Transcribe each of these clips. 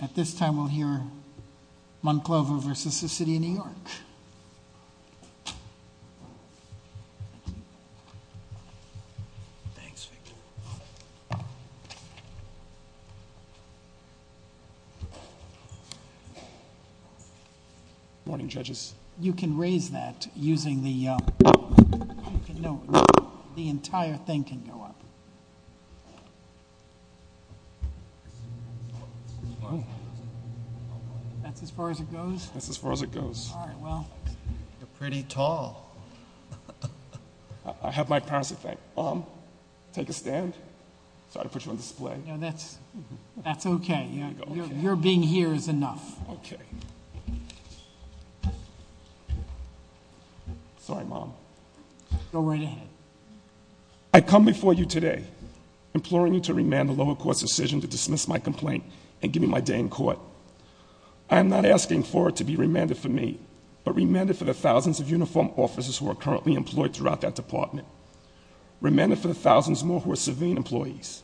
At this time, we'll hear Monclova v. City of New York. Morning, judges. You can raise that using the, no, the entire thing can go up. That's as far as it goes? That's as far as it goes. All right, well. You're pretty tall. I have my parents to thank. Mom, take a stand. Sorry to put you on display. No, that's okay. Your being here is enough. Okay. Sorry, Mom. Go right ahead. I come before you today imploring you to remand the lower court's decision to dismiss my complaint and give me my day in court. I am not asking for it to be remanded for me, but remanded for the thousands of uniformed officers who are currently employed throughout that department. Remanded for the thousands more who are civilian employees.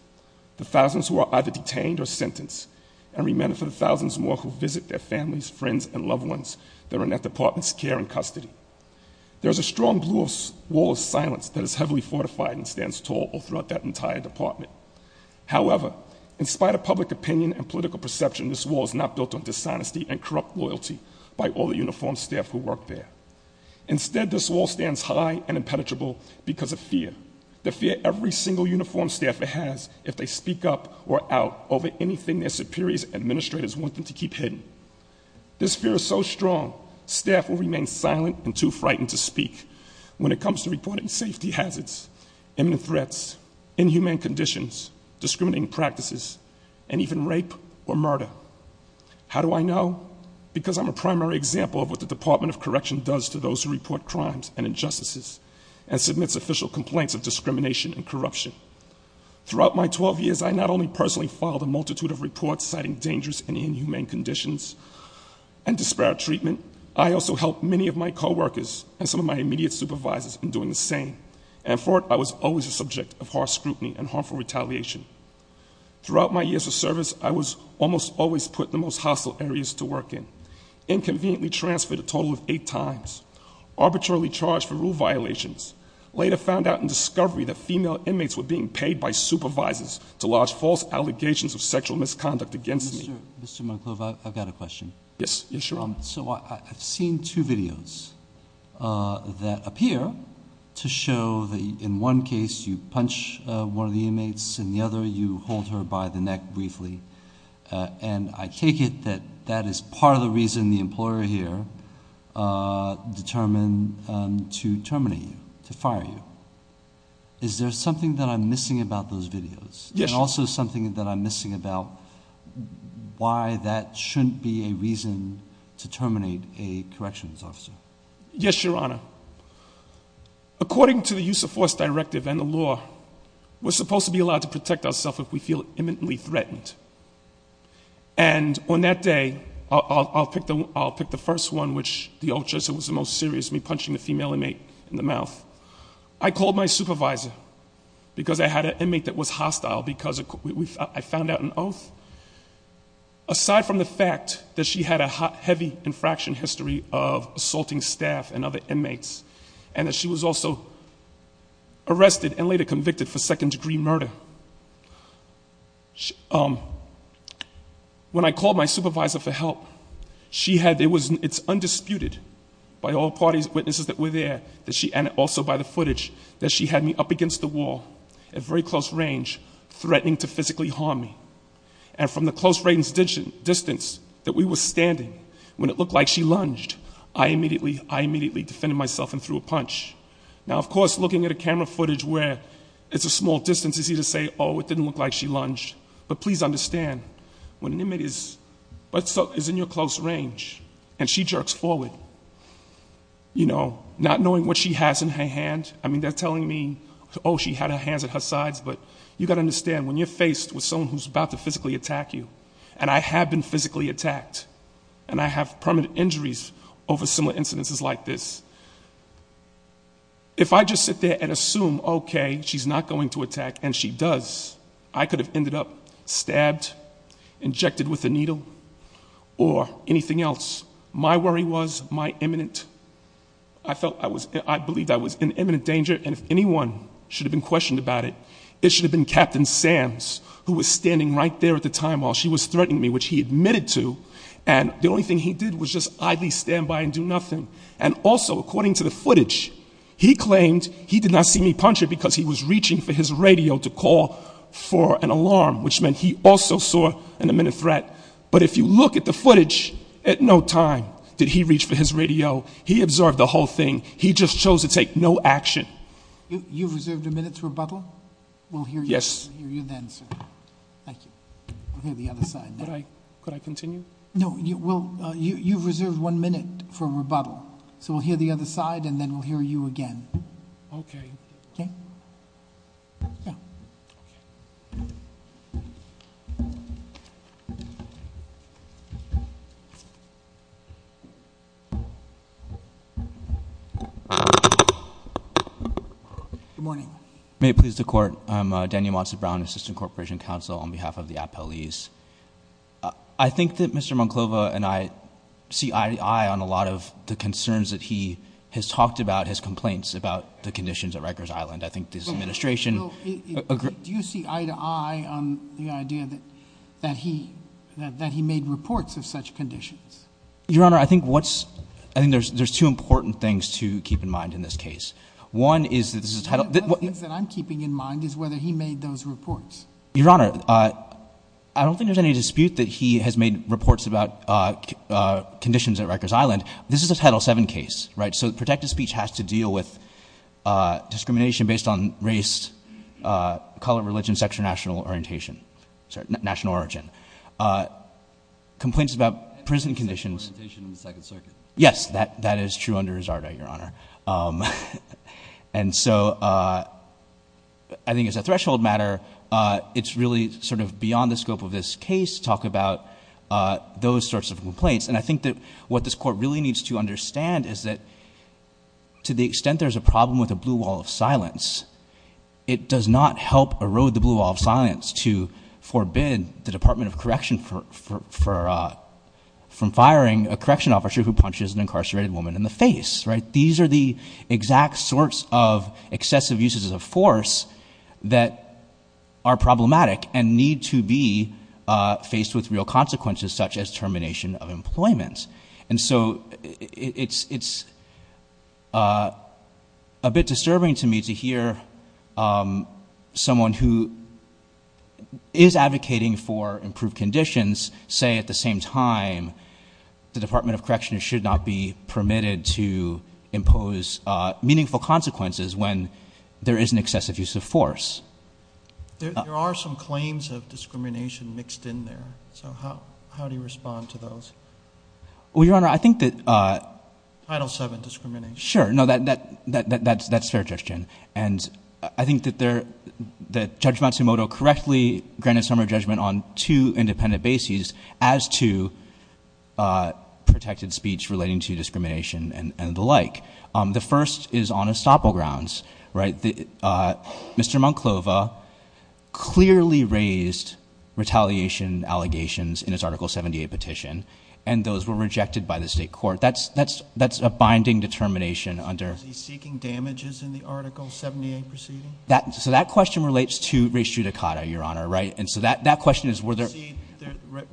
The thousands who are either detained or sentenced. And remanded for the thousands more who visit their families, friends, and loved ones that are in that department's care and custody. There's a strong blue wall of silence that is heavily fortified and stands tall throughout that entire department. However, in spite of public opinion and political perception, this wall is not built on dishonesty and corrupt loyalty by all the uniformed staff who work there. Instead, this wall stands high and impenetrable because of fear. The fear every single uniformed staffer has if they speak up or out over anything their superiors and administrators want them to keep hidden. This fear is so strong, staff will remain silent and too frightened to speak when it comes to reporting safety hazards, imminent threats, inhumane conditions, discriminating practices, and even rape or murder. How do I know? Because I'm a primary example of what the Department of Correction does to those who report crimes and injustices and submits official complaints of discrimination and corruption. Throughout my 12 years, I not only personally filed a multitude of reports citing dangerous and inhumane conditions and disparate treatment. I also helped many of my co-workers and some of my immediate supervisors in doing the same. And for it, I was always a subject of harsh scrutiny and harmful retaliation. Throughout my years of service, I was almost always put in the most hostile areas to work in. Inconveniently transferred a total of eight times, arbitrarily charged for true violations, later found out in discovery that female inmates were being paid by supervisors to lodge false allegations of sexual misconduct against me. Mr. Monclova, I've got a question. Yes, sure. So I've seen two videos that appear to show that in one case, you punch one of the inmates and the other, you hold her by the neck briefly. And I take it that that is part of the reason the employer here determined to terminate you, to fire you. Is there something that I'm missing about those videos? Yes, sir. And also something that I'm missing about why that shouldn't be a reason to terminate a corrections officer? Yes, your honor. According to the use of force directive and the law, we're supposed to be allowed to protect ourself if we feel imminently threatened. And on that day, I'll pick the first one, which the old judge said was the most serious, me punching the female inmate in the mouth. I called my supervisor, because I had an inmate that was hostile, because I found out an oath. Aside from the fact that she had a heavy infraction history of assaulting staff and other inmates, and that she was also arrested and later convicted for second degree murder. Now, when I called my supervisor for help, it's undisputed by all party's witnesses that were there. And also by the footage, that she had me up against the wall at very close range, threatening to physically harm me. And from the close range distance that we were standing, when it looked like she lunged, I immediately defended myself and threw a punch. Now, of course, looking at a camera footage where it's a small distance is easy to say, it didn't look like she lunged. But please understand, when an inmate is in your close range, and she jerks forward, not knowing what she has in her hand, I mean, they're telling me, she had her hands at her sides. But you gotta understand, when you're faced with someone who's about to physically attack you, and I have been physically attacked. And I have permanent injuries over similar incidences like this. If I just sit there and assume, okay, she's not going to attack, and she does, I could have ended up stabbed, injected with a needle, or anything else. My worry was my imminent, I felt I was, I believed I was in imminent danger. And if anyone should have been questioned about it, it should have been Captain Sands, who was standing right there at the time while she was threatening me, which he admitted to. And the only thing he did was just idly stand by and do nothing. And also, according to the footage, he claimed he did not see me punch her because he was reaching for his radio to call for an alarm, which meant he also saw an imminent threat. But if you look at the footage, at no time did he reach for his radio. He observed the whole thing. He just chose to take no action. You've reserved a minute to rebuttal? We'll hear you then, sir. Thank you. We'll hear the other side. Could I continue? No, you've reserved one minute for rebuttal. So we'll hear the other side, and then we'll hear you again. Okay. Okay? Yeah. Good morning. May it please the court. I'm Daniel Monson Brown, Assistant Corporation Counsel on behalf of the appellees. I think that Mr. Monclova and I see eye to eye on a lot of the concerns that he has talked about, his complaints about the conditions at Rikers Island. I think this administration- Do you see eye to eye on the idea that he made reports of such conditions? Your Honor, I think there's two important things to keep in mind in this case. One is that this is a title- One of the things that I'm keeping in mind is whether he made those reports. Your Honor, I don't think there's any dispute that he has made reports about conditions at Rikers Island. This is a Title VII case, right? So protected speech has to deal with discrimination based on race, color, religion, sexual national orientation, sorry, national origin. Complaints about prison conditions- National orientation in the Second Circuit. Yes, that is true under his order, Your Honor. And so I think it's a threshold matter. It's really sort of beyond the scope of this case to talk about those sorts of complaints. And I think that what this court really needs to understand is that to the extent there's a problem with a blue wall of silence, it does not help erode the blue wall of silence to forbid the Department of Correction from firing a correction officer who punches an incarcerated woman in the face, right? These are the exact sorts of excessive uses of force that are problematic and need to be faced with real consequences such as termination of employment. And so it's a bit disturbing to me to hear someone who is advocating for improved conditions say at the same time, the Department of Correction should not be permitted to impose meaningful consequences when there is an excessive use of force. There are some claims of discrimination mixed in there, so how do you respond to those? Well, Your Honor, I think that- Title VII discrimination. Sure, no, that's fair, Judge Chin. And I think that Judge Matsumoto correctly granted some of her judgment on two independent bases as to protected speech relating to discrimination and the like. The first is on estoppel grounds, right? Mr. Monclova clearly raised retaliation allegations in his Article 78 petition, and those were rejected by the state court, that's a binding determination under- Was he seeking damages in the Article 78 proceeding? So that question relates to res judicata, Your Honor, right? And so that question is whether- I see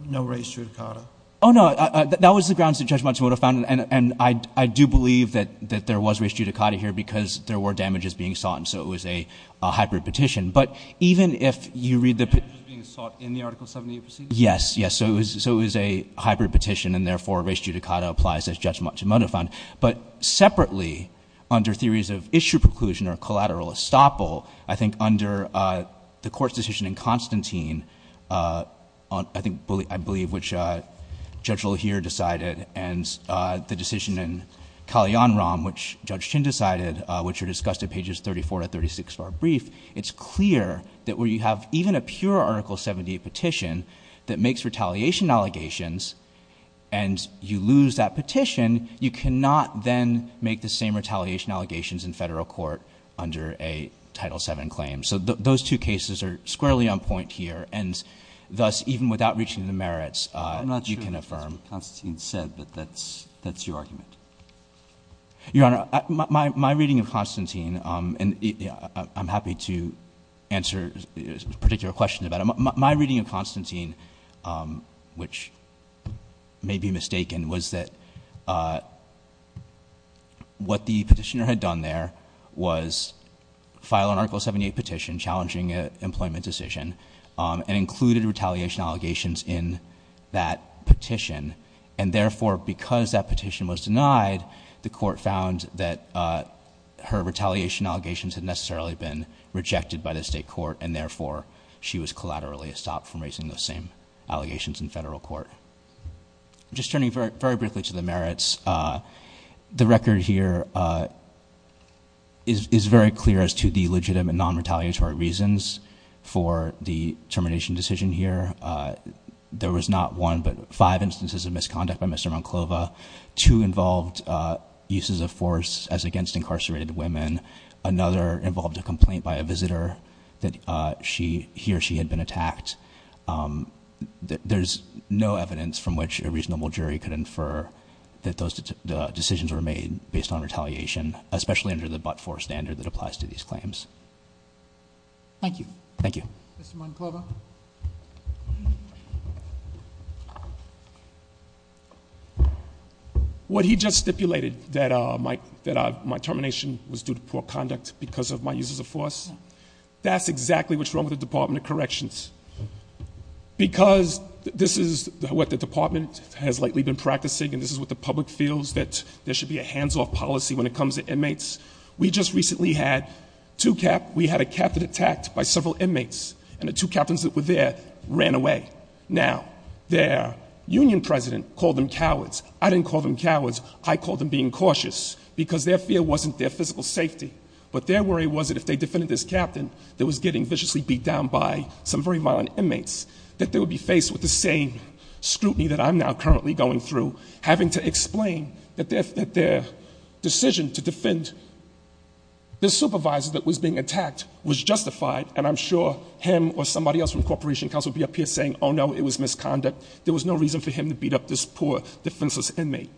no res judicata. No, that was the grounds that Judge Matsumoto found, and I do believe that there was res judicata here, because there were damages being sought, and so it was a hybrid petition. But even if you read the- Damages being sought in the Article 78 proceeding? Yes, yes, so it was a hybrid petition, and therefore res judicata applies as Judge Matsumoto found. But separately, under theories of issue preclusion or collateral estoppel, I think under the court's decision in Constantine, I believe which Judge LaHere decided, and the decision in Calianrom, which Judge Chin decided, which are discussed at pages 34 to 36 of our brief. It's clear that where you have even a pure Article 78 petition that makes retaliation allegations, and you lose that petition, you cannot then make the same retaliation allegations in federal court under a Title VII claim. So those two cases are squarely on point here, and thus, even without reaching the merits, you can affirm- I'm not sure what Constantine said, but that's your argument. Your Honor, my reading of Constantine, and I'm happy to answer particular questions about it. My reading of Constantine, which may be mistaken, was that what the petitioner had done there was file an Article 78 petition challenging an employment decision, and included retaliation allegations in that petition. And therefore, because that petition was denied, the court found that her retaliation had thoroughly stopped from raising those same allegations in federal court. Just turning very briefly to the merits, the record here is very clear as to the legitimate non-retaliatory reasons for the termination decision here. There was not one, but five instances of misconduct by Mr. Monclova. Two involved uses of force as against incarcerated women. Another involved a complaint by a visitor that he or she had been attacked. There's no evidence from which a reasonable jury could infer that those decisions were made based on retaliation, especially under the but-for standard that applies to these claims. Thank you. Thank you. Mr. Monclova. What he just stipulated, that my termination was due to poor conduct because of my uses of force. That's exactly what's wrong with the Department of Corrections. Because this is what the department has lately been practicing, and this is what the public feels, that there should be a hands-off policy when it comes to inmates. We just recently had two, we had a captain attacked by several inmates, and the two captains that were there ran away. Now, their union president called them cowards. I didn't call them cowards, I called them being cautious, because their fear wasn't their physical safety. But their worry was that if they defended this captain that was getting viciously beat down by some very violent inmates, that they would be faced with the same scrutiny that I'm now currently going through, having to explain that their decision to defend the supervisor that was being attacked was justified. And I'm sure him or somebody else from cooperation council would be up here saying, no, it was misconduct. There was no reason for him to beat up this poor defenseless inmate.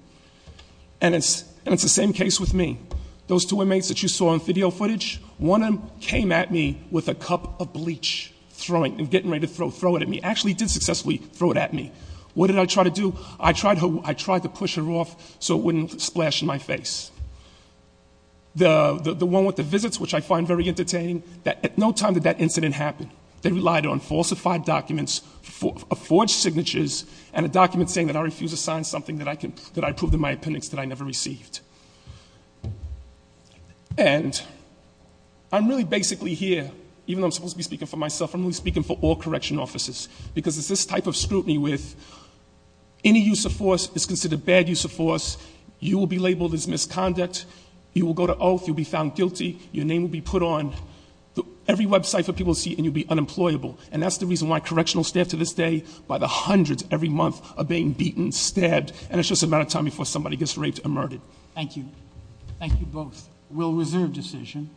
And it's the same case with me. Those two inmates that you saw on video footage, one of them came at me with a cup of bleach, throwing, and getting ready to throw it at me. Actually did successfully throw it at me. What did I try to do? I tried to push her off so it wouldn't splash in my face. The one with the visits, which I find very entertaining, that at no time did that incident happen. They relied on falsified documents, forged signatures, and a document saying that I refuse to sign something that I proved in my appendix that I never received. And I'm really basically here, even though I'm supposed to be speaking for myself, I'm really speaking for all correction officers. Because it's this type of scrutiny with any use of force is considered bad use of force. You will be labeled as misconduct, you will go to oath, you'll be found guilty, your name will be put on every website for people to see, and you'll be unemployable. And that's the reason why correctional staff to this day, by the hundreds every month, are being beaten, stabbed, and it's just a matter of time before somebody gets raped and murdered. Thank you. Thank you both. We'll reserve decision.